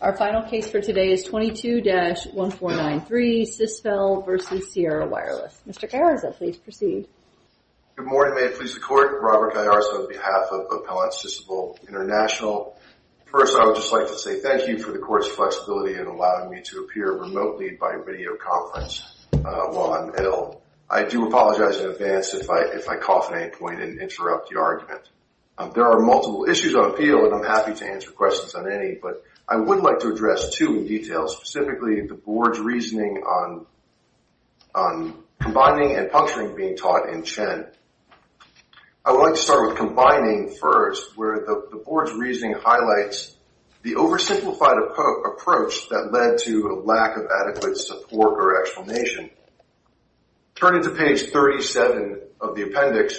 Our final case for today is 22-1493 Sisvel v. Sierra Wireless. Mr. Carranza, please proceed. Good morning. May it please the Court. Robert Carranza on behalf of Appellant Sisvel International. First, I would just like to say thank you for the Court's flexibility in allowing me to appear remotely by video conference while I'm ill. I do apologize in advance if I cough at any point and interrupt the argument. There are multiple issues on appeal, and I'm happy to answer questions on any, but I would like to address two in detail, specifically the Board's reasoning on combining and puncturing being taught in Chen. I would like to start with combining first, where the Board's reasoning highlights the oversimplified approach that led to a lack of adequate support or explanation. Turning to page 37 of the appendix,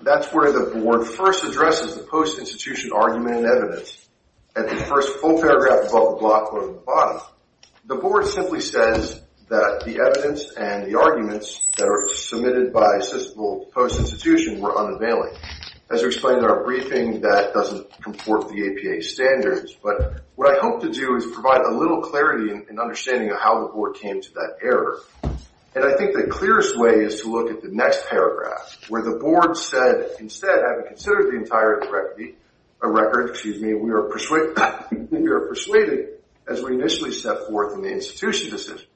that's where the Board first addresses the post-institution argument and evidence, and the first full paragraph above the block or at the bottom, the Board simply says that the evidence and the arguments that are submitted by Sisvel post-institution were unavailing. As I explained in our briefing, that doesn't comport with the APA standards, but what I hope to do is provide a little clarity in understanding how the Board came to that error. And I think the clearest way is to look at the next paragraph, where the Board said, instead, having considered the entire record, we are persuaded, as we initially set forth in the institution decision,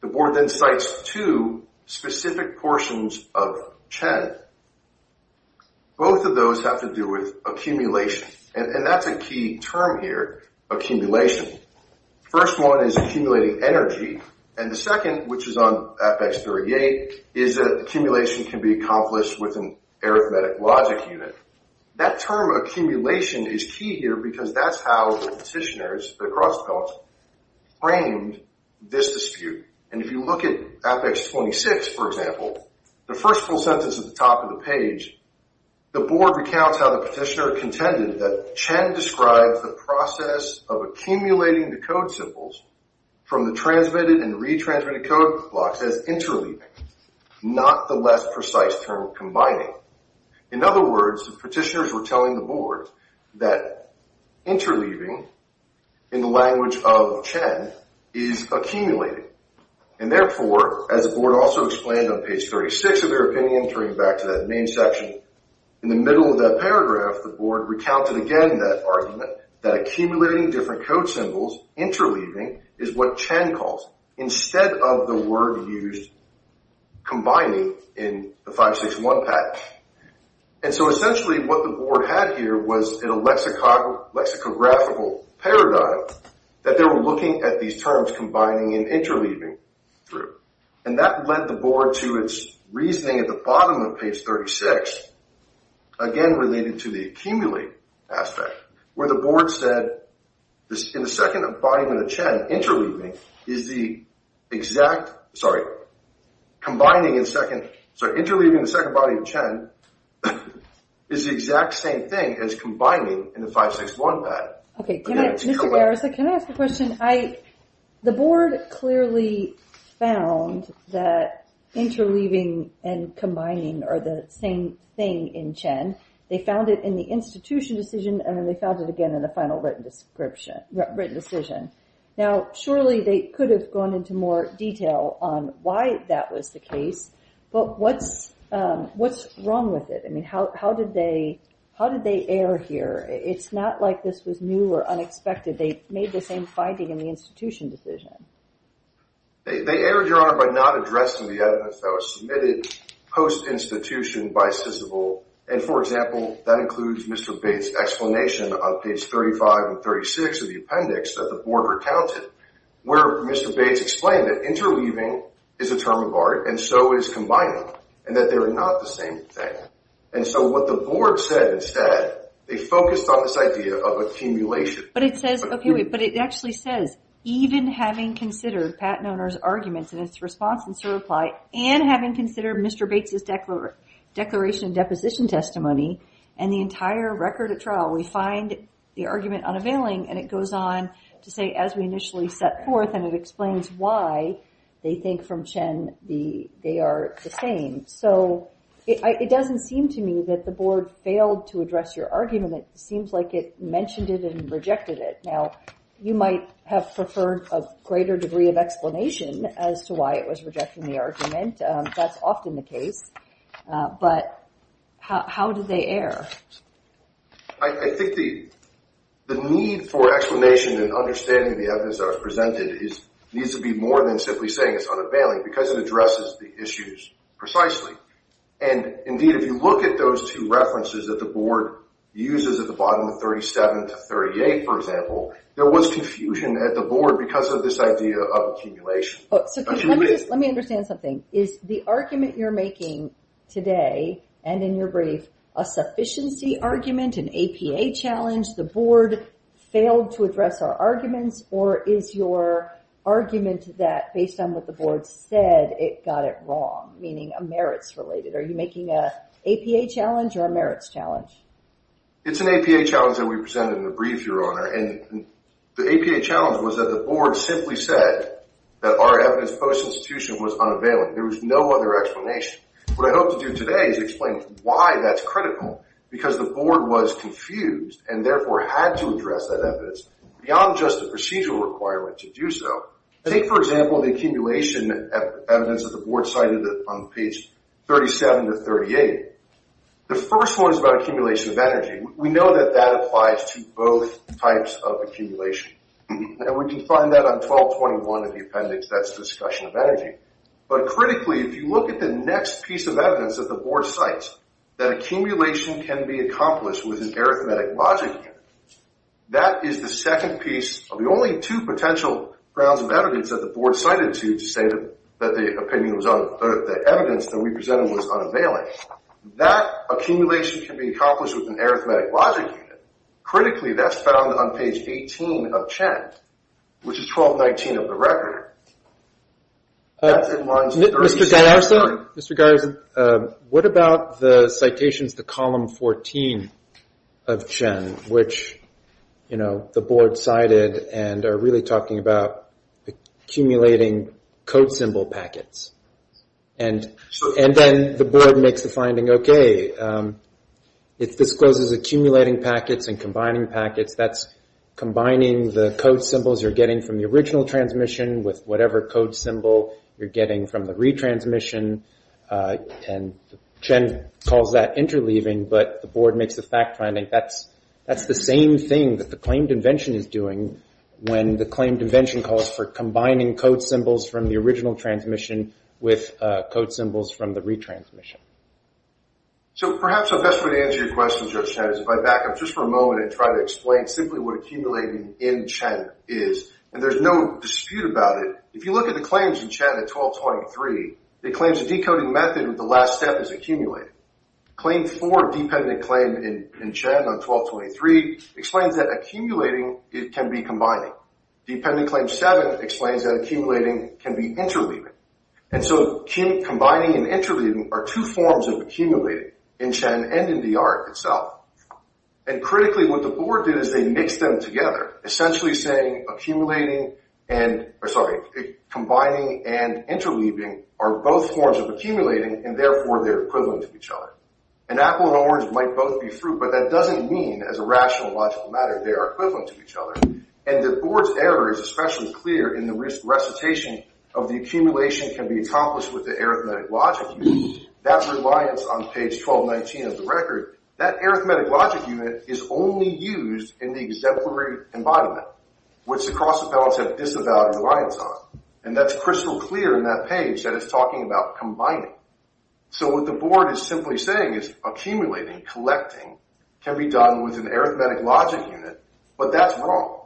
the Board then cites two specific portions of Chen. Both of those have to do with accumulation, and that's a key term here, accumulation. First one is accumulating energy, and the second, which is on Apex 38, is that accumulation can be accomplished with an arithmetic logic unit. That term accumulation is key here because that's how the Petitioners, the Cross Appellate, framed this dispute. And if you look at Apex 26, for example, the first full sentence at the top of the page, the Board recounts how the Petitioner contended that Chen described the process of accumulating the code symbols from the transmitted and retransmitted code blocks as interleaving, not the less precise term combining. In other words, the Petitioners were telling the Board that interleaving, in the language of Chen, is accumulating. And therefore, as the Board also explained on page 36 of their opinion, going back to that main section, in the middle of that paragraph, the Board recounted again that argument, that accumulating different code symbols, interleaving, is what Chen calls, instead of the word used combining, in the 561 package. And so essentially what the Board had here was a lexicographical paradigm that they were looking at these terms combining and interleaving through. And that led the Board to its reasoning at the bottom of page 36, again related to the accumulate aspect, where the Board said, in the second volume of the Chen, interleaving is the exact, sorry, combining in second, so interleaving in the second volume of Chen is the exact same thing as combining in the 561 package. Okay, can I, Mr. Garza, can I ask a question? The Board clearly found that interleaving and combining are the same thing in Chen. They found it in the institution decision, and then they found it again in the final written description, written decision. Now, surely they could have gone into more detail on why that was the case, but what's wrong with it? I mean, how did they err here? It's not like this was new or unexpected. They made the same finding in the institution decision. They erred, Your Honor, by not addressing the evidence that was submitted post-institution by Sysable. And for example, that includes Mr. Bates' explanation on page 35 and 36 of the appendix that the Board recounted, where Mr. Bates explained that interleaving is a term of art, and so is combining, and that they're not the same thing. And so what the Board said instead, they focused on this idea of accumulation. But it says, okay, wait, but it actually says, even having considered Pat Noner's arguments and his response in certify, and having considered Mr. Bates' declaration and deposition testimony, and the entire record of trial, we find the argument unavailing, and it goes on to say, as we initially set forth, and it explains why they think from Chen, they are the same. So it doesn't seem to me that the Board failed to address your argument. It seems like it mentioned it and rejected it. Now, you might have preferred a greater degree of explanation as to why it was rejecting the argument. That's often the case. But how did they err? I think the need for explanation and understanding the evidence that was presented needs to be more than simply saying it's unavailing, because it addresses the issues precisely. And indeed, if you look at those two references that the Board uses at the bottom of 37 to 38, for example, there was confusion at the Board because of this idea of accumulation. Let me understand something. Is the argument you're making today, and in your brief, a sufficiency argument, an APA challenge, the Board failed to address our arguments, or is your argument that, based on what the Board said, it got it wrong, meaning a merits-related? Are you making an APA challenge or a merits challenge? It's an APA challenge that we presented in the brief, Your Honor, and the APA challenge was that the Board simply said that our evidence post-institution was unavailing. There was no other explanation. What I hope to do today is explain why that's critical, because the Board was confused and therefore had to address that evidence beyond just the procedural requirement to do so. I think, for example, the accumulation evidence that the Board cited on page 37 to 38, the first one is about accumulation of energy. We know that that applies to both types of accumulation. We can find that on 1221 of the appendix, that's the discussion of energy. But critically, if you look at the next piece of evidence that the Board cites, that accumulation can be accomplished with an arithmetic logic unit, that is the second piece of the only two potential grounds of evidence that the Board cited to say that the evidence that we presented was unavailing. That accumulation can be accomplished with an arithmetic logic unit. Critically, that's found on page 18 of Chen, which is 1219 of the record. That's in lines 36 and 37. Mr. Garza, what about the citations to column 14 of Chen, which the Board cited and are really talking about accumulating code symbol packets? And then the Board makes the finding, okay, it discloses accumulating packets. And combining packets, that's combining the code symbols you're getting from the original transmission with whatever code symbol you're getting from the retransmission. And Chen calls that interleaving. But the Board makes the fact finding, that's the same thing that the claimed invention is doing when the claimed invention calls for combining code symbols from the original transmission with code symbols from the retransmission. So, perhaps the best way to answer your question, Judge Chen, is if I back up just for a moment and try to explain simply what accumulating in Chen is. And there's no dispute about it. If you look at the claims in Chen at 1223, it claims the decoding method with the last step is accumulating. Claim four, dependent claim in Chen on 1223, explains that accumulating can be combining. Dependent claim seven explains that accumulating can be interleaving. And so combining and interleaving are two forms of accumulating in Chen and in DR itself. And critically what the Board did is they mixed them together, essentially saying combining and interleaving are both forms of accumulating and therefore they're equivalent to each other. And apple and orange might both be true, but that doesn't mean as a rational logical matter they are equivalent to each other. And the Board's error is especially clear in the recitation of the accumulation can be accomplished with the arithmetic logic unit. That reliance on page 1219 of the record, that arithmetic logic unit is only used in the exemplary embodiment, which the Cross Appellants have disavowed reliance on. And that's crystal clear in that page that it's talking about combining. So what the Board is simply saying is accumulating, collecting, can be done with an arithmetic logic unit, but that's wrong.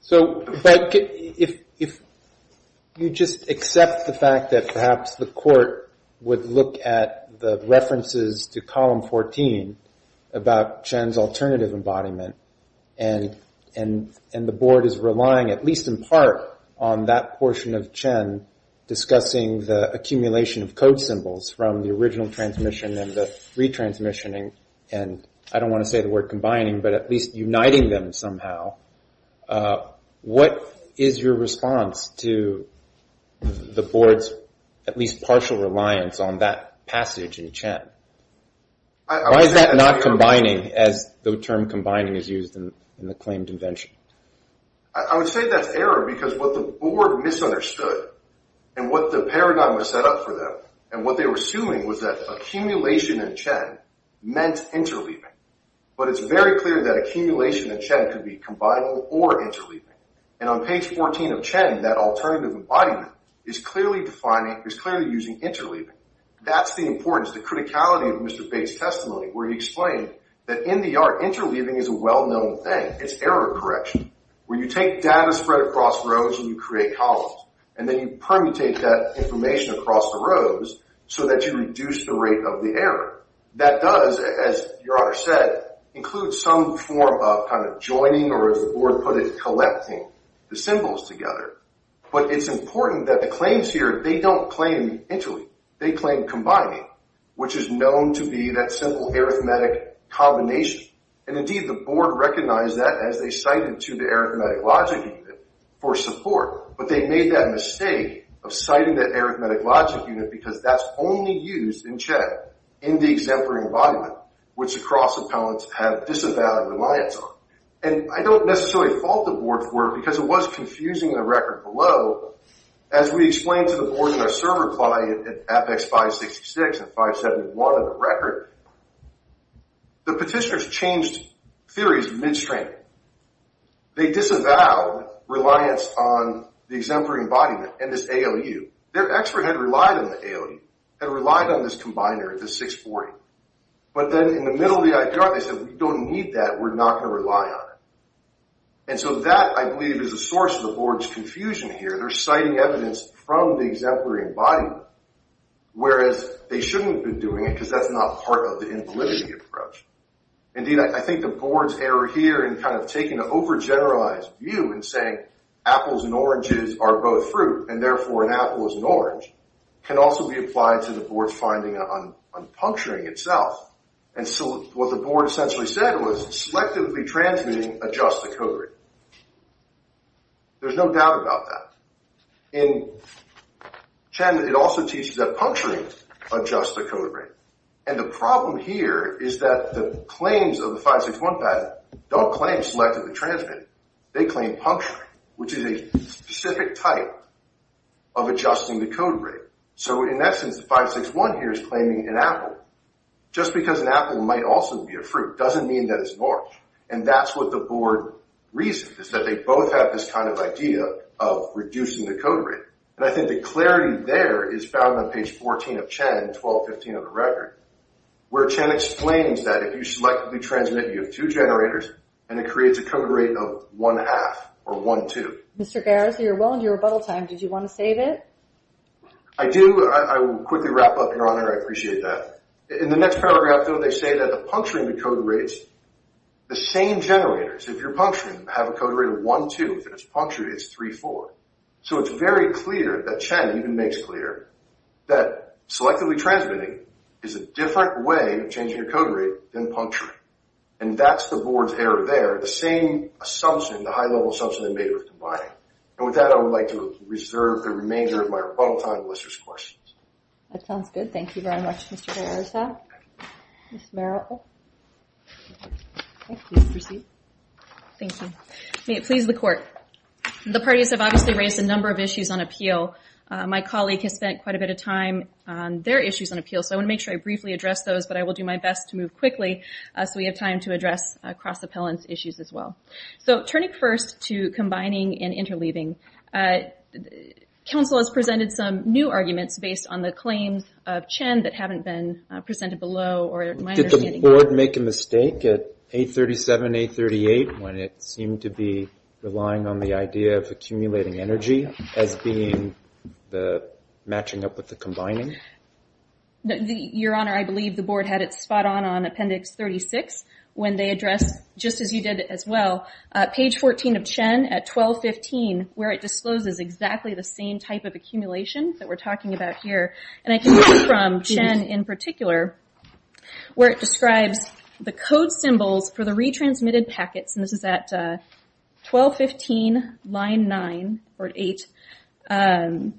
So if you just accept the fact that perhaps the Court would look at the references to column 14 about Chen's alternative embodiment and the Board is relying at least in part on that portion of Chen discussing the accumulation of code symbols from the original transmission and the retransmissioning, and I don't want to say the word combining, but at least uniting them somehow, what is your response to the Board's at least partial reliance on that passage in Chen? Why is that not combining as the term combining is used in the claimed invention? I would say that's error because what the Board misunderstood and what the paradigm was set up for them, and what they were assuming was that accumulation in Chen meant interleaving. But it's very clear that accumulation in Chen could be combinable or interleaving. And on page 14 of Chen, that alternative embodiment is clearly defining, is clearly using interleaving. That's the importance, the criticality of Mr. Bates' testimony, where he explained that in the art, interleaving is a well-known thing, it's error correction, where you take data spread across rows and you create columns, and then you permutate that information across the rows so that you reduce the rate of the error. That does, as Your Honor said, include some form of kind of joining, or as the Board put it, collecting the symbols together. But it's important that the claims here, they don't claim interleaving, they claim combining, which is known to be that simple arithmetic combination. And indeed, the Board recognized that as they cited to the arithmetic logic unit for support. But they made that mistake of citing the arithmetic logic unit because that's only used in Chen, in the exemplary embodiment, which the cross-appellants have disavowed reliance on. And I don't necessarily fault the Board for it because it was confusing the record below. As we explained to the Board in our serve reply at Apex 566 and 571 of the record, the petitioners changed theories midstream. They disavowed reliance on the exemplary embodiment and this ALU. Their expert had relied on the ALU, had relied on this combiner, the 640. But then in the middle of the IPR, they said, we don't need that, we're not going to rely on it. And so that, I believe, is a source of the Board's confusion here. They're citing evidence from the exemplary embodiment, whereas they shouldn't have been doing it because that's not part of the invalidity approach. Indeed, I think the Board's error here in kind of taking an over-generalized view and saying apples and oranges are both fruit, and therefore an apple is an orange, can also be applied to the Board's finding on puncturing itself. And so what the Board essentially said was, selectively transmitting adjusts the code rate. There's no doubt about that. In Chen, it also teaches that puncturing adjusts the code rate. And the problem here is that the claims of the 561 patent don't claim selectively transmitting. They claim puncturing, which is a specific type of adjusting the code rate. So in essence, the 561 here is claiming an apple. Just because an apple might also be a fruit doesn't mean that it's an orange. And that's what the Board reasons, is that they both have this kind of idea of reducing the code rate. And I think the clarity there is found on page 14 of Chen, 12.15 of the record, where Chen explains that if you selectively transmit, you have two generators, and it creates a code rate of 1.5 or 1.2. Mr. Garza, you're well into your rebuttal time. Did you want to save it? I do. I will quickly wrap up, Your Honor. I appreciate that. In the next paragraph, though, they say that the puncturing of the code rates, the same generators, if you're puncturing, have a code rate of 1.2, if it's punctured, it's 3.4. So it's very clear that Chen even makes clear that selectively transmitting is a different way of changing a code rate than puncturing. And that's the Board's error there, the same assumption, the high-level assumption, they made with the buying. And with that, I would like to reserve the remainder of my rebuttal time and list your questions. That sounds good. Thank you very much, Mr. Garza. Ms. Merrill. Thank you. Please proceed. Thank you. May it please the Court. The parties have obviously raised a number of issues on appeal. My colleague has spent quite a bit of time on their issues on appeal, so I want to make sure I briefly address those, but I will do my best to move quickly so we have time to address cross-appellant's issues as well. So turning first to combining and interleaving, counsel has presented some new arguments based on the claims of Chen that haven't been presented below, or in my understanding. Did the Board make a mistake at 837, 838 when it seemed to be relying on the idea of accumulating energy as being the matching up with the combining? Your Honor, I believe the Board had it spot on on Appendix 36 when they addressed, just as you did as well, page 14 of Chen at 1215, where it discloses exactly the same type of accumulation that we're talking about here. I can read from Chen in particular, where it describes the code symbols for the retransmitted packets, and this is at 1215, line 9, or 8, are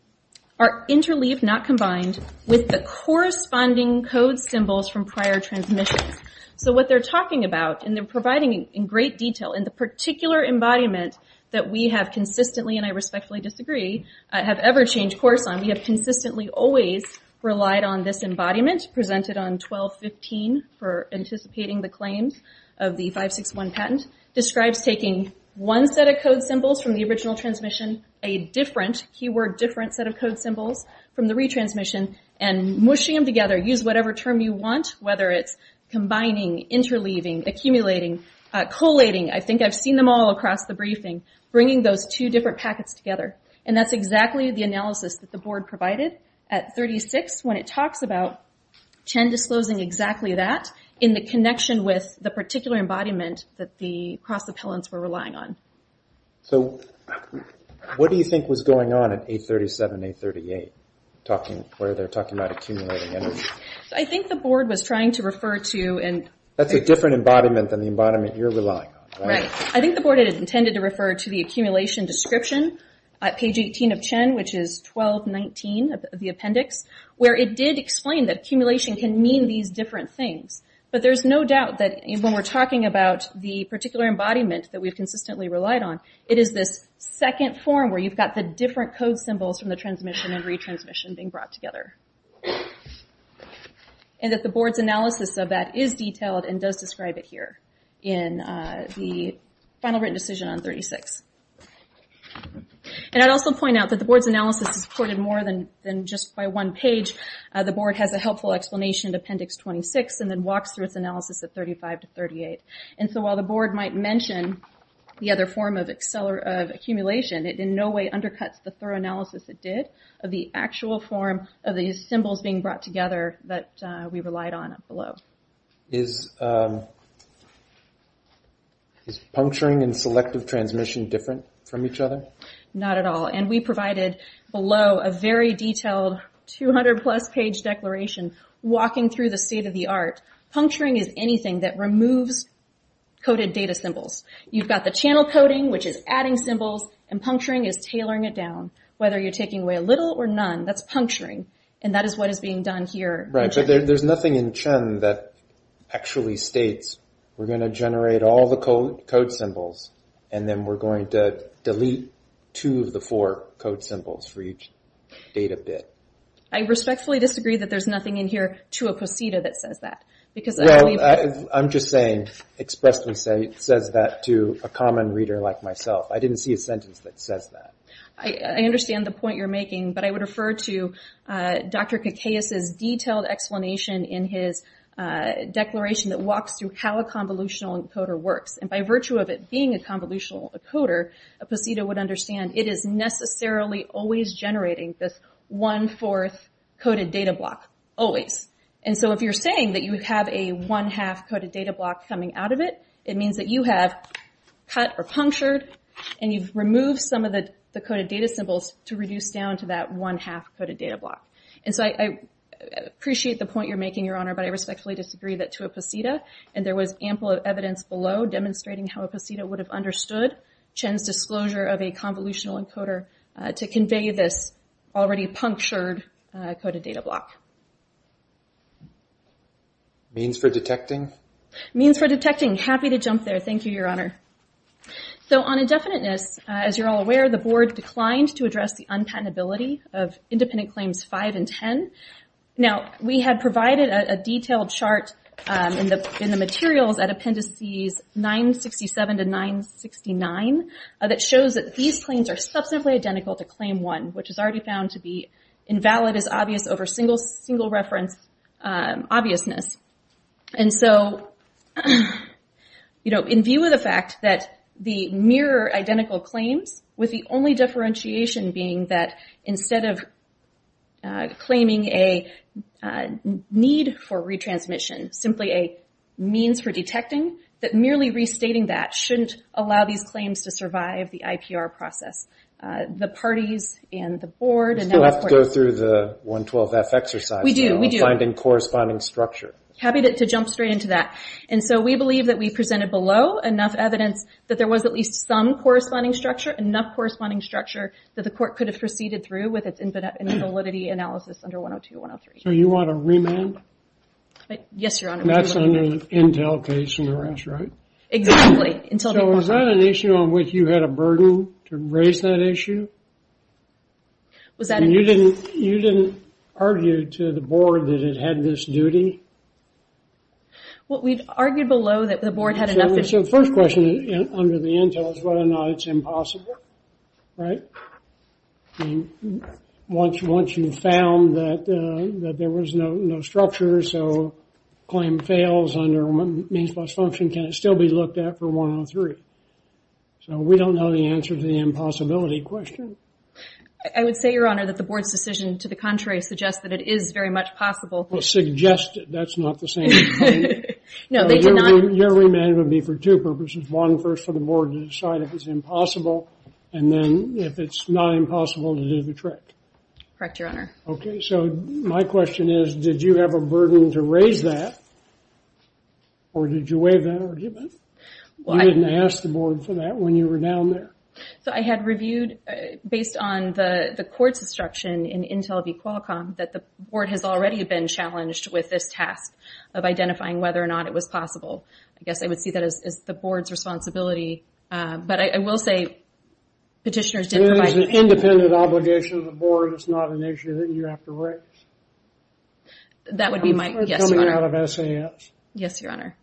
interleaved, not combined, with the corresponding code symbols from prior transmissions. So what they're talking about, and they're providing in great detail, in the particular embodiment that we have consistently, and I respectfully disagree, have ever changed course on, we have consistently always relied on this embodiment, presented on 1215 for anticipating the claims of the 561 patent, describes taking one set of code symbols from the original transmission, a different, keyword different, set of code symbols from the retransmission, and mushing them together. Use whatever term you want, whether it's combining, interleaving, accumulating, collating, I think I've seen them all across the briefing, bringing those two different packets together. And that's exactly the analysis that the board provided at 36, when it talks about Chen disclosing exactly that, in the connection with the particular embodiment that the cross-appellants were relying on. So, what do you think was going on at 837, 838, where they're talking about accumulating energy? I think the board was trying to refer to... That's a different embodiment than the embodiment you're relying on, right? Right. I think the board intended to refer to the accumulation description, at page 18 of Chen, which is 1219 of the appendix, where it did explain that accumulation can mean these different things. But there's no doubt that when we're talking about the particular embodiment that we've consistently relied on, it is this second form where you've got the different code symbols from the transmission and retransmission being brought together. And that the board's analysis of that is detailed, and does describe it here, in the final written decision on 36. And I'd also point out that the board's analysis is supported more than just by one page. The board has a helpful explanation in appendix 26, and then walks through its analysis at 35 to 38. And so, while the board might mention the other form of accumulation, it in no way undercuts the thorough analysis it did of the actual form of these symbols being brought together that we relied on, below. Is puncturing and selective transmission different from each other? Not at all. And we provided, below, a very detailed 200-plus page declaration, walking through the state of the art. Puncturing is anything that removes coded data symbols. You've got the channel coding, which is adding symbols, and puncturing is tailoring it down. Whether you're taking away a little or none, that's puncturing, and that is what is being done here. Right. But there's nothing in Chen that actually states, we're going to generate all the code symbols, and then we're going to delete two of the four code symbols for each data bit. I respectfully disagree that there's nothing in here to a procedure that says that, because Well, I'm just saying, expressly saying, it says that to a common reader like myself. I didn't see a sentence that says that. I understand the point you're making, but I would refer to Dr. Kikaios' detailed explanation in his declaration that walks through how a convolutional encoder works, and by virtue of it being a convolutional encoder, a procedo would understand it is necessarily always generating this one-fourth coded data block, always. And so if you're saying that you have a one-half coded data block coming out of it, it means that you have cut or punctured, and you've removed some of the coded data symbols to reduce down to that one-half coded data block. And so I appreciate the point you're making, Your Honor, but I respectfully disagree that to a procedo, and there was ample evidence below demonstrating how a procedo would have understood Chen's disclosure of a convolutional encoder to convey this already punctured coded data block. Means for detecting? Means for detecting. Happy to jump there. Thank you, Your Honor. So on indefiniteness, as you're all aware, the Board declined to address the unpatentability of Independent Claims 5 and 10. Now we had provided a detailed chart in the materials at Appendices 967 to 969 that shows that these claims are substantively identical to Claim 1, which is already found to be invalid as obvious over single reference obviousness. And so in view of the fact that the mere identical claims, with the only differentiation being that instead of claiming a need for retransmission, simply a means for detecting, that merely restating that shouldn't allow these claims to survive the IPR process. The parties and the Board... We still have to go through the 112-F exercise. We do. We do. Finding corresponding structure. Happy to jump straight into that. And so we believe that we presented below enough evidence that there was at least some corresponding structure, enough corresponding structure that the Court could have proceeded through with its invalidity analysis under 102-103. So you want a remand? Yes, Your Honor. And that's under the Intel case in the rest, right? Exactly. So was that an issue on which you had a burden to raise that issue? Was that... And you didn't argue to the Board that it had this duty? What we've argued below that the Board had enough... So the first question under the Intel is whether or not it's impossible, right? Once you found that there was no structure, so claim fails under means plus function, can it still be looked at for 103? So we don't know the answer to the impossibility question. I would say, Your Honor, that the Board's decision to the contrary suggests that it is very much possible. Well, suggested. That's not the same thing. No, they did not... Your remand would be for two purposes. One, first for the Board to decide if it's impossible, and then if it's not impossible to do the trick. Correct, Your Honor. Okay. So my question is, did you have a burden to raise that, or did you waive that argument? You didn't ask the Board for that when you were down there. So I had reviewed, based on the Court's instruction in Intel v. Qualcomm, that the Board has already been challenged with this task of identifying whether or not it was possible. I guess I would see that as the Board's responsibility, but I will say petitioners did provide... So it was an independent obligation of the Board. It's not an issue that you have to raise? That would be my... Yes, Your Honor. Coming out of SAS. Yes, Your Honor.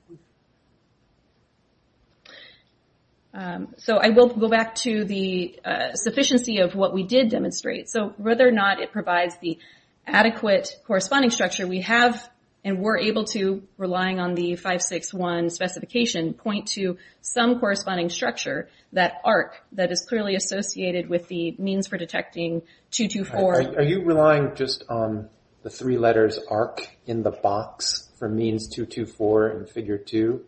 So I will go back to the sufficiency of what we did demonstrate. So whether or not it provides the adequate corresponding structure, we have and were able to, relying on the 561 specification, point to some corresponding structure, that is clearly associated with the means for detecting 224. Are you relying just on the three letters ARC in the box for means 224 in Figure 2?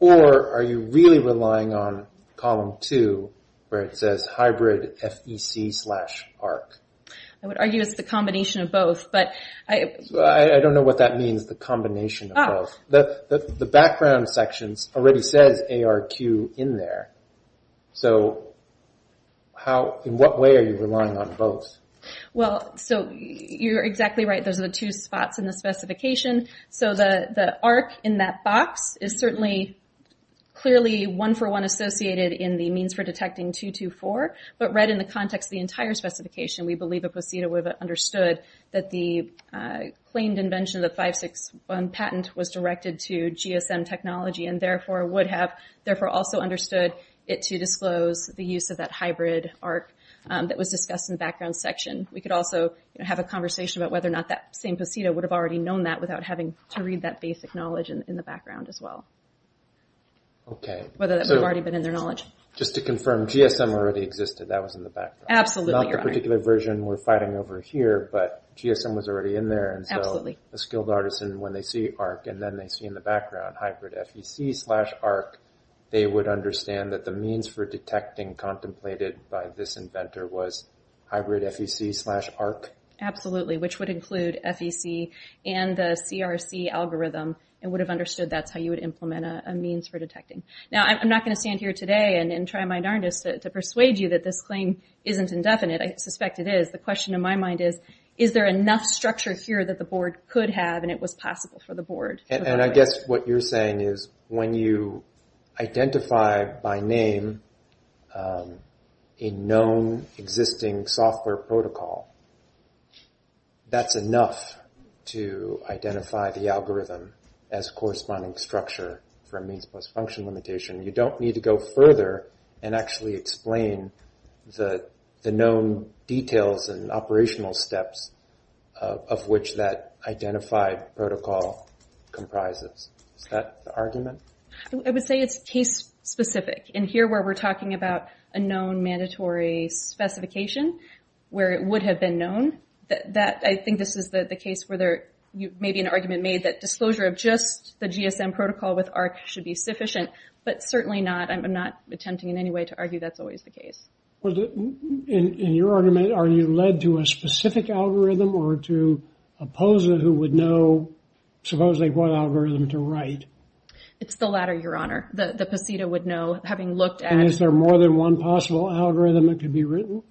Or are you really relying on Column 2, where it says hybrid FEC slash ARC? I would argue it's the combination of both, but... I don't know what that means, the combination of both. The background section already says ARQ in there. So in what way are you relying on both? Well, so you're exactly right. Those are the two spots in the specification. So the ARC in that box is certainly clearly one-for-one associated in the means for detecting 224, but right in the context of the entire specification, we believe the procedure would have understood that the claimed invention of the 561 patent was directed to GSM technology, and therefore would have therefore also understood it to disclose the use of that hybrid ARC that was discussed in the background section. We could also have a conversation about whether or not that same posito would have already known that without having to read that basic knowledge in the background as well. Okay. Whether that would have already been in their knowledge. Just to confirm, GSM already existed, that was in the background? Absolutely, Your Honor. Not the particular version we're fighting over here, but GSM was already in there, and so a skilled artisan, when they see ARC, and then they see in the background hybrid FEC slash ARC, they would understand that the means for detecting contemplated by this inventor was hybrid FEC slash ARC? Absolutely, which would include FEC and the CRC algorithm, and would have understood that's how you would implement a means for detecting. Now, I'm not going to stand here today and try my darndest to persuade you that this claim isn't indefinite, I suspect it is. The question in my mind is, is there enough structure here that the board could have and it was possible for the board? I guess what you're saying is, when you identify by name a known existing software protocol, that's enough to identify the algorithm as corresponding structure for a means plus function limitation. You don't need to go further and actually explain the known details and operational steps of which that identified protocol comprises. Is that the argument? I would say it's case specific. In here where we're talking about a known mandatory specification, where it would have been known, I think this is the case where there may be an argument made that disclosure of just the GSM protocol with ARC should be sufficient, but certainly not. I'm not attempting in any way to argue that's always the case. In your argument, are you led to a specific algorithm or to a POSA who would know, supposedly, what algorithm to write? It's the latter, Your Honor. The POSITA would know, having looked at- And is there more than one possible algorithm that could be written?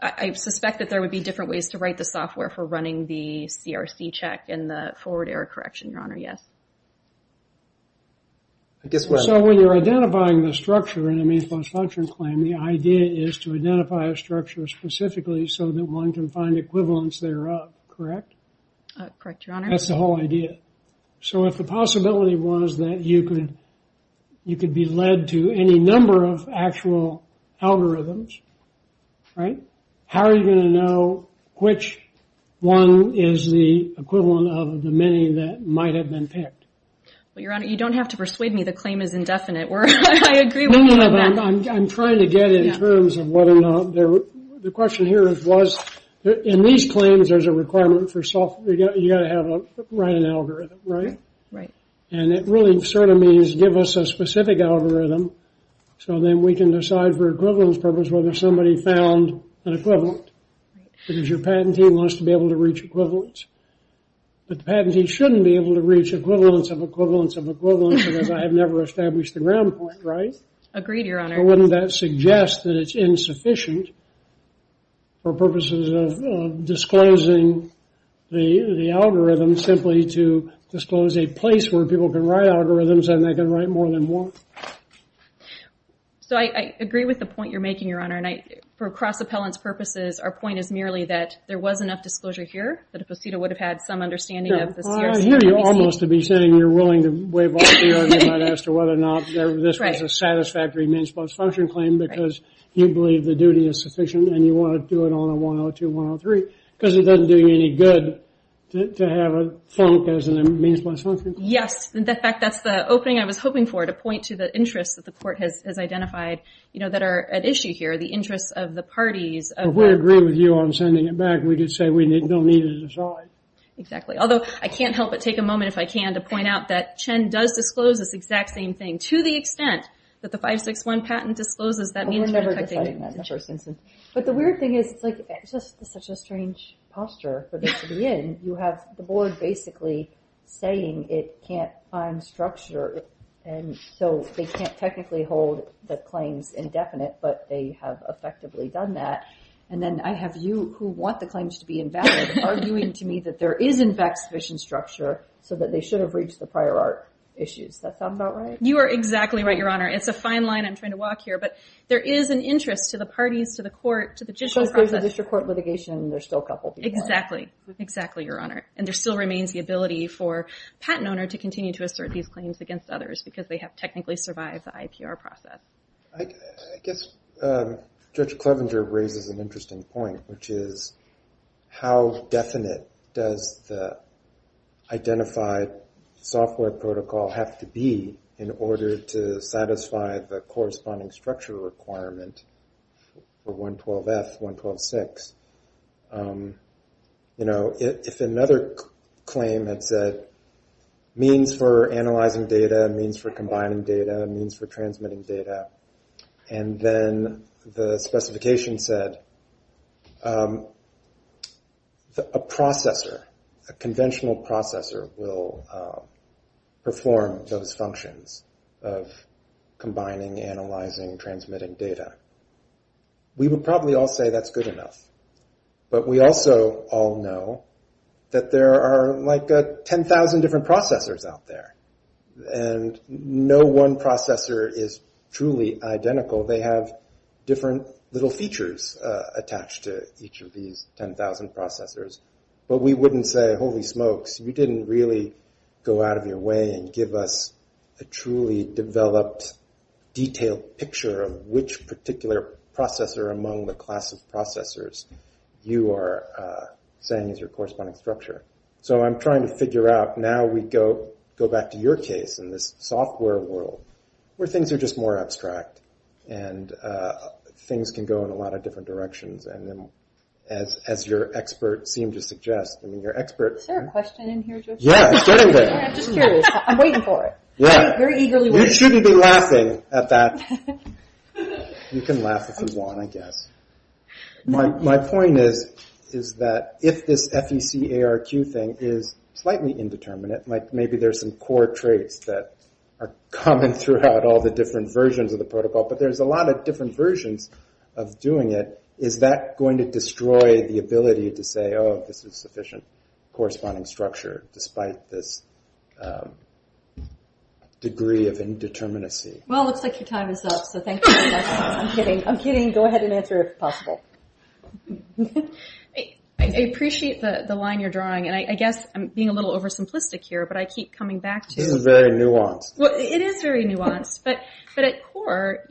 I suspect that there would be different ways to write the software for running the CRC check and the forward error correction, Your Honor. Yes. I guess- So when you're identifying the structure in a main post function claim, the idea is to identify a structure specifically so that one can find equivalence thereof, correct? Correct, Your Honor. That's the whole idea. So if the possibility was that you could be led to any number of actual algorithms, right? How are you going to know which one is the equivalent of the many that might have been picked? Well, Your Honor, you don't have to persuade me. The claim is indefinite. I agree with you on that. No, no, no. I'm trying to get in terms of whether or not there- The question here was, in these claims, there's a requirement for software. You've got to have a- write an algorithm, right? Right. And it really sort of means give us a specific algorithm so then we can decide for equivalence purpose whether somebody found an equivalent because your patent team wants to be able to reach equivalence. But the patent team shouldn't be able to reach equivalence of equivalence of equivalence because I have never established the ground point, right? Agreed, Your Honor. So wouldn't that suggest that it's insufficient for purposes of disclosing the algorithm simply to disclose a place where people can write algorithms and they can write more than one? So I agree with the point you're making, Your Honor. For cross-appellant's purposes, our point is merely that there was enough disclosure here that a prosecutor would have had some understanding of the CRC- Well, I hear you almost to be saying you're willing to wave off the argument as to whether or not this was a satisfactory means plus function claim because you believe the duty is sufficient and you want to do it on a 102, 103 because it doesn't do you any good to have a funk as a means plus function claim. Yes. In fact, that's the opening I was hoping for, to point to the interests that the court has identified that are at issue here, the interests of the parties of- If we agree with you on sending it back, we can say we don't need to decide. Exactly. Although, I can't help but take a moment, if I can, to point out that Chen does disclose this exact same thing. To the extent that the 561 patent discloses that means- We're never deciding that in the first instance. But the weird thing is, it's just such a strange posture for this to be in. You have the board basically saying it can't find structure and so they can't technically hold the claims indefinite, but they have effectively done that. And then I have you, who want the claims to be invalid, arguing to me that there is in fact sufficient structure so that they should have reached the prior art issues. Does that sound about right? You are exactly right, Your Honor. It's a fine line I'm trying to walk here, but there is an interest to the parties, to the court, to the judicial process- Because there's a district court litigation and there's still a couple people- Exactly. Exactly, Your Honor. And there still remains the ability for a patent owner to continue to assert these claims against others because they have technically survived the IPR process. I guess Judge Clevenger raises an interesting point, which is how definite does the identified software protocol have to be in order to satisfy the corresponding structure requirement for 112F, 1126? If another claim had said, means for analyzing data, means for combining data, means for transmitting data, and then the specification said a processor, a conventional processor will perform those functions of combining, analyzing, transmitting data, we would probably all say that's good enough. But we also all know that there are like 10,000 different processors out there. And no one processor is truly identical. They have different little features attached to each of these 10,000 processors. But we wouldn't say, holy smokes, you didn't really go out of your way and give us a truly developed, detailed picture of which particular processor among the class of processors you are saying is your corresponding structure. So I'm trying to figure out, now we go back to your case in this software world where things are just more abstract and things can go in a lot of different directions. And as your expert seemed to suggest, I mean your expert... Is there a question in here, Judge? Yeah, start over. I'm just curious. I'm waiting for it. I'm very eagerly waiting. You shouldn't be laughing at that. You can laugh if you want, I guess. My point is that if this FEC ARQ thing is slightly indeterminate, like maybe there's some core traits that are common throughout all the different versions of the protocol, but there's a lot of different versions of doing it, is that going to destroy the ability to say, oh, this is sufficient corresponding structure despite this degree of indeterminacy? Well, it looks like your time is up, so thank you for that. I'm kidding. I'm kidding. Go ahead and answer if possible. I appreciate the line you're drawing, and I guess I'm being a little oversimplistic here, but I keep coming back to... This is very nuanced. It is very nuanced, but at core,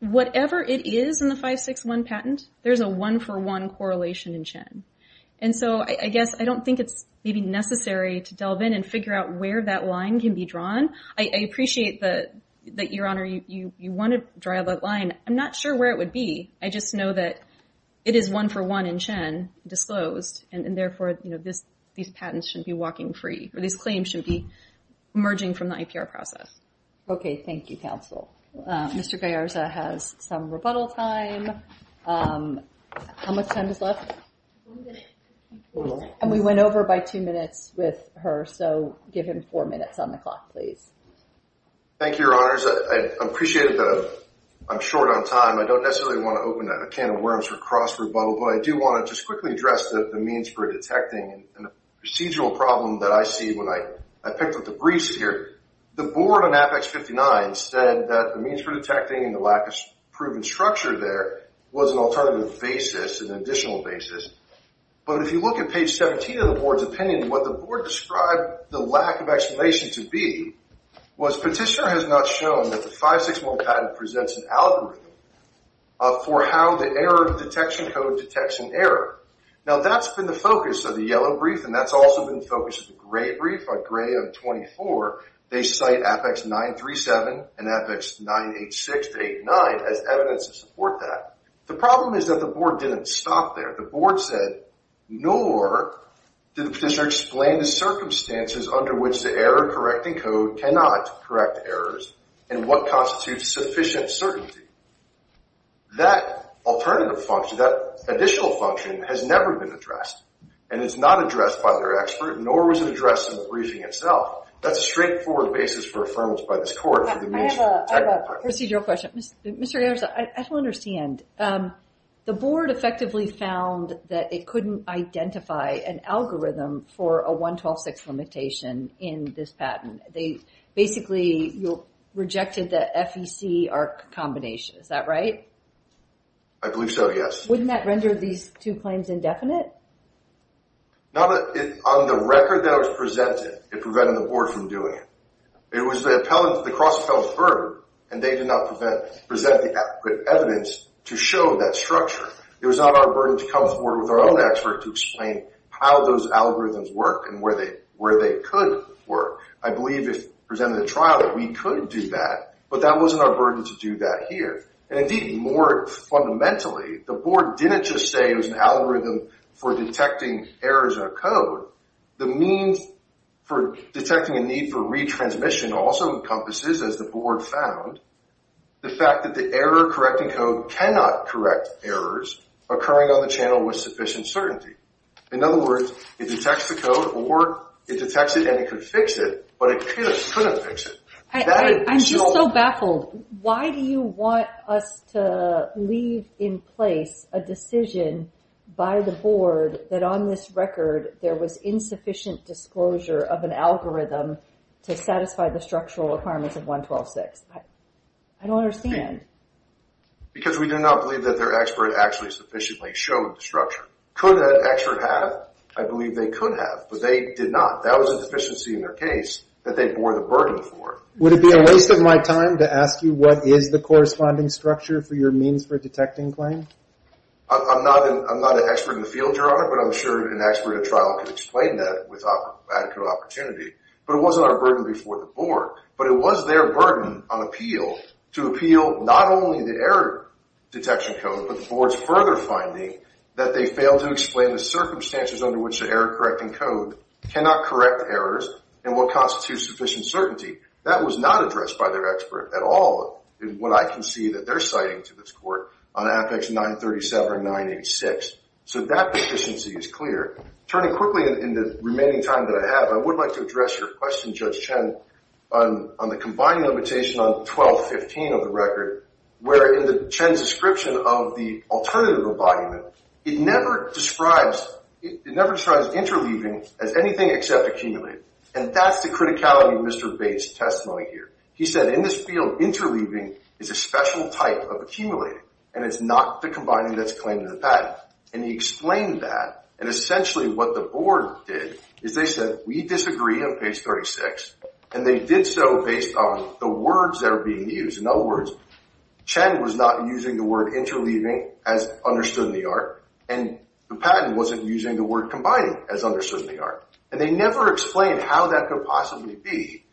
whatever it is in the 561 patent, there's a one for one correlation in CHIN, and so I guess I don't think it's maybe necessary to delve in and figure out where that line can be drawn. I appreciate that, Your Honor, you want to drive that line. I'm not sure where it would be. I just know that it is one for one in CHIN disclosed, and therefore these patents should be walking free, or these claims should be emerging from the IPR process. Okay. Thank you, counsel. Mr. Gallarza has some rebuttal time. How much time is left? One minute. And we went over by two minutes with her, so give him four minutes on the clock, please. Thank you, Your Honors. I appreciate that I'm short on time. I don't necessarily want to open a can of worms for cross-rebuttal, but I do want to just quickly address the means for detecting and the procedural problem that I see when I picked up the briefs here. The board on Apex 59 said that the means for detecting and the lack of proven structure there was an alternative basis, an additional basis. But if you look at page 17 of the board's opinion, what the board described the lack of explanation to be was petitioner has not shown that the 5-6-1 patent presents an algorithm for how the error detection code detects an error. Now, that's been the focus of the yellow brief, and that's also been the focus of the gray brief, a gray of 24. They cite Apex 9-3-7 and Apex 9-8-6-8-9 as evidence to support that. The problem is that the board didn't stop there. The board said, nor did the petitioner explain the circumstances under which the error correcting code cannot correct errors and what constitutes sufficient certainty. That alternative function, that additional function has never been addressed, and it's not addressed by their expert, nor was it addressed in the briefing itself. That's a straightforward basis for affirmation by this court. I have a procedural question. Mr. Garza, I don't understand. The board effectively found that it couldn't identify an algorithm for a 1-12-6 limitation in this patent. They basically rejected the FEC-ARC combination. Is that right? I believe so, yes. Wouldn't that render these two claims indefinite? On the record that was presented, it prevented the board from doing it. It was the cross-appellant's burden, and they did not present the adequate evidence to show that structure. It was not our burden to come forward with our own expert to explain how those algorithms work and where they could work. I believe if presented at trial that we could do that, but that wasn't our burden to do that here. Indeed, more fundamentally, the board didn't just say it was an algorithm for detecting errors in a code. The means for detecting a need for retransmission also encompasses, as the board found, the fact that the error-correcting code cannot correct errors occurring on the channel with sufficient certainty. In other words, it detects the code, or it detects it and it could fix it, but it couldn't fix it. I'm just so baffled. Why do you want us to leave in place a decision by the board that on this record there was insufficient disclosure of an algorithm to satisfy the structural requirements of 112.6? I don't understand. Because we do not believe that their expert actually sufficiently showed the structure. Could an expert have? I believe they could have, but they did not. That was a deficiency in their case that they bore the burden for. Would it be a waste of my time to ask you what is the corresponding structure for your means for detecting claim? I'm not an expert in the field, Your Honor, but I'm sure an expert at trial could explain that with adequate opportunity. But it wasn't our burden before the board. But it was their burden on appeal to appeal not only the error detection code, but the board's further finding that they failed to explain the circumstances under which the correct errors and what constitutes sufficient certainty. That was not addressed by their expert at all in what I can see that they're citing to this court on Apex 937-986. So that deficiency is clear. Turning quickly in the remaining time that I have, I would like to address your question, Judge Chen, on the combined limitation on 1215 of the record, where in the Chen's description of the alternative embodiment, it never describes interleaving as anything except accumulated. And that's the criticality of Mr. Bates' testimony here. He said, in this field, interleaving is a special type of accumulated, and it's not the combining that's claimed in the patent. And he explained that. And essentially what the board did is they said, we disagree on page 36. And they did so based on the words that were being used. In other words, Chen was not using the word interleaving as understood in the art. And the patent wasn't using the word combining as understood in the art. And they never explained how that could possibly be,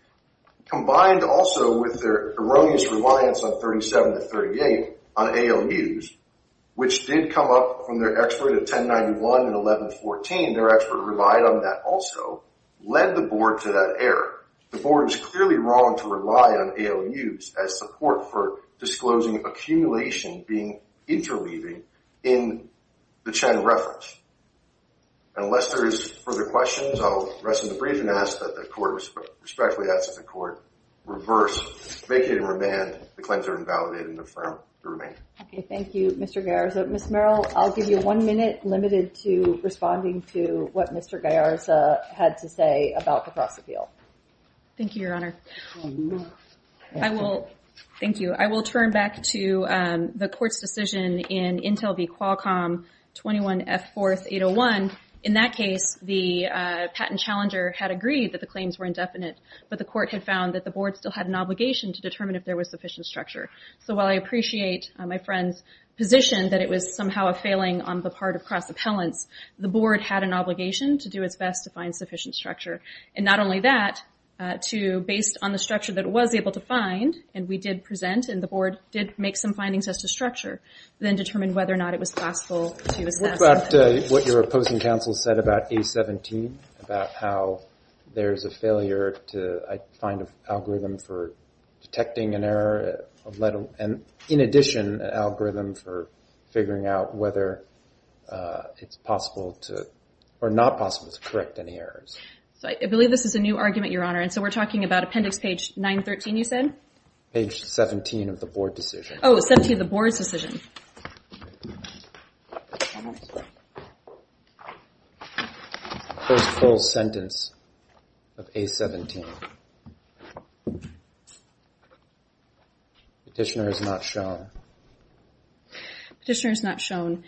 combined also with their erroneous reliance on 37 to 38 on ALUs, which did come up from their expert at 1091 and 1114. Their expert relied on that also, led the board to that error. The board was clearly wrong to rely on ALUs as support for disclosing accumulation being interleaving in the Chen reference. And unless there is further questions, I'll rest and breathe and ask that the court respectfully ask that the court reverse vacate and remand the claims that are invalidated and affirm the remand. Okay. Thank you, Mr. Gallarza. Ms. Merrill, I'll give you one minute limited to responding to what Mr. Gallarza had to say about the cross-appeal. Thank you, Your Honor. I will, thank you. I will turn back to the court's decision in Intel v. Qualcomm 21F4801. In that case, the patent challenger had agreed that the claims were indefinite, but the court had found that the board still had an obligation to determine if there was sufficient structure. So while I appreciate my friend's position that it was somehow a failing on the part of cross-appellants, the board had an obligation to do its best to find sufficient structure. And not only that, to, based on the structure that it was able to find, and we did present and the board did make some findings as to structure, then determine whether or not it was possible to assess it. What about what your opposing counsel said about A17, about how there's a failure to find an algorithm for detecting an error, and in addition, an algorithm for figuring out whether it's possible to, or not possible to correct any errors. So I believe this is a new argument, Your Honor. And so we're talking about appendix page 913, you said? Page 17 of the board decision. Oh, 17 of the board's decision. First full sentence of A17. Petitioner is not shown. Petitioner is not shown.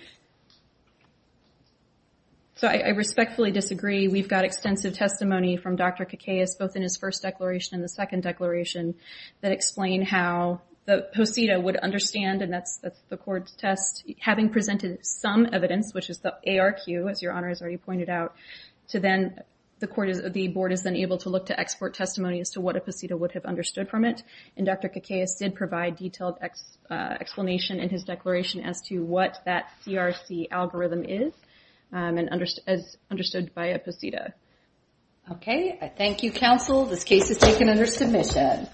So I respectfully disagree. We've got extensive testimony from Dr. Kakaias, both in his first declaration and the second declaration, that explain how the POSITA would understand, and that's the court's test, having presented some evidence, which is the ARQ, as Your Honor has already pointed out, to then, the court is, the board is then able to look to export testimony as to what a POSITA would have understood from it. And Dr. Kakaias did provide detailed explanation in his declaration as to what that CRC algorithm is, as understood by a POSITA. Okay, I thank you, counsel. This case is taken under submission.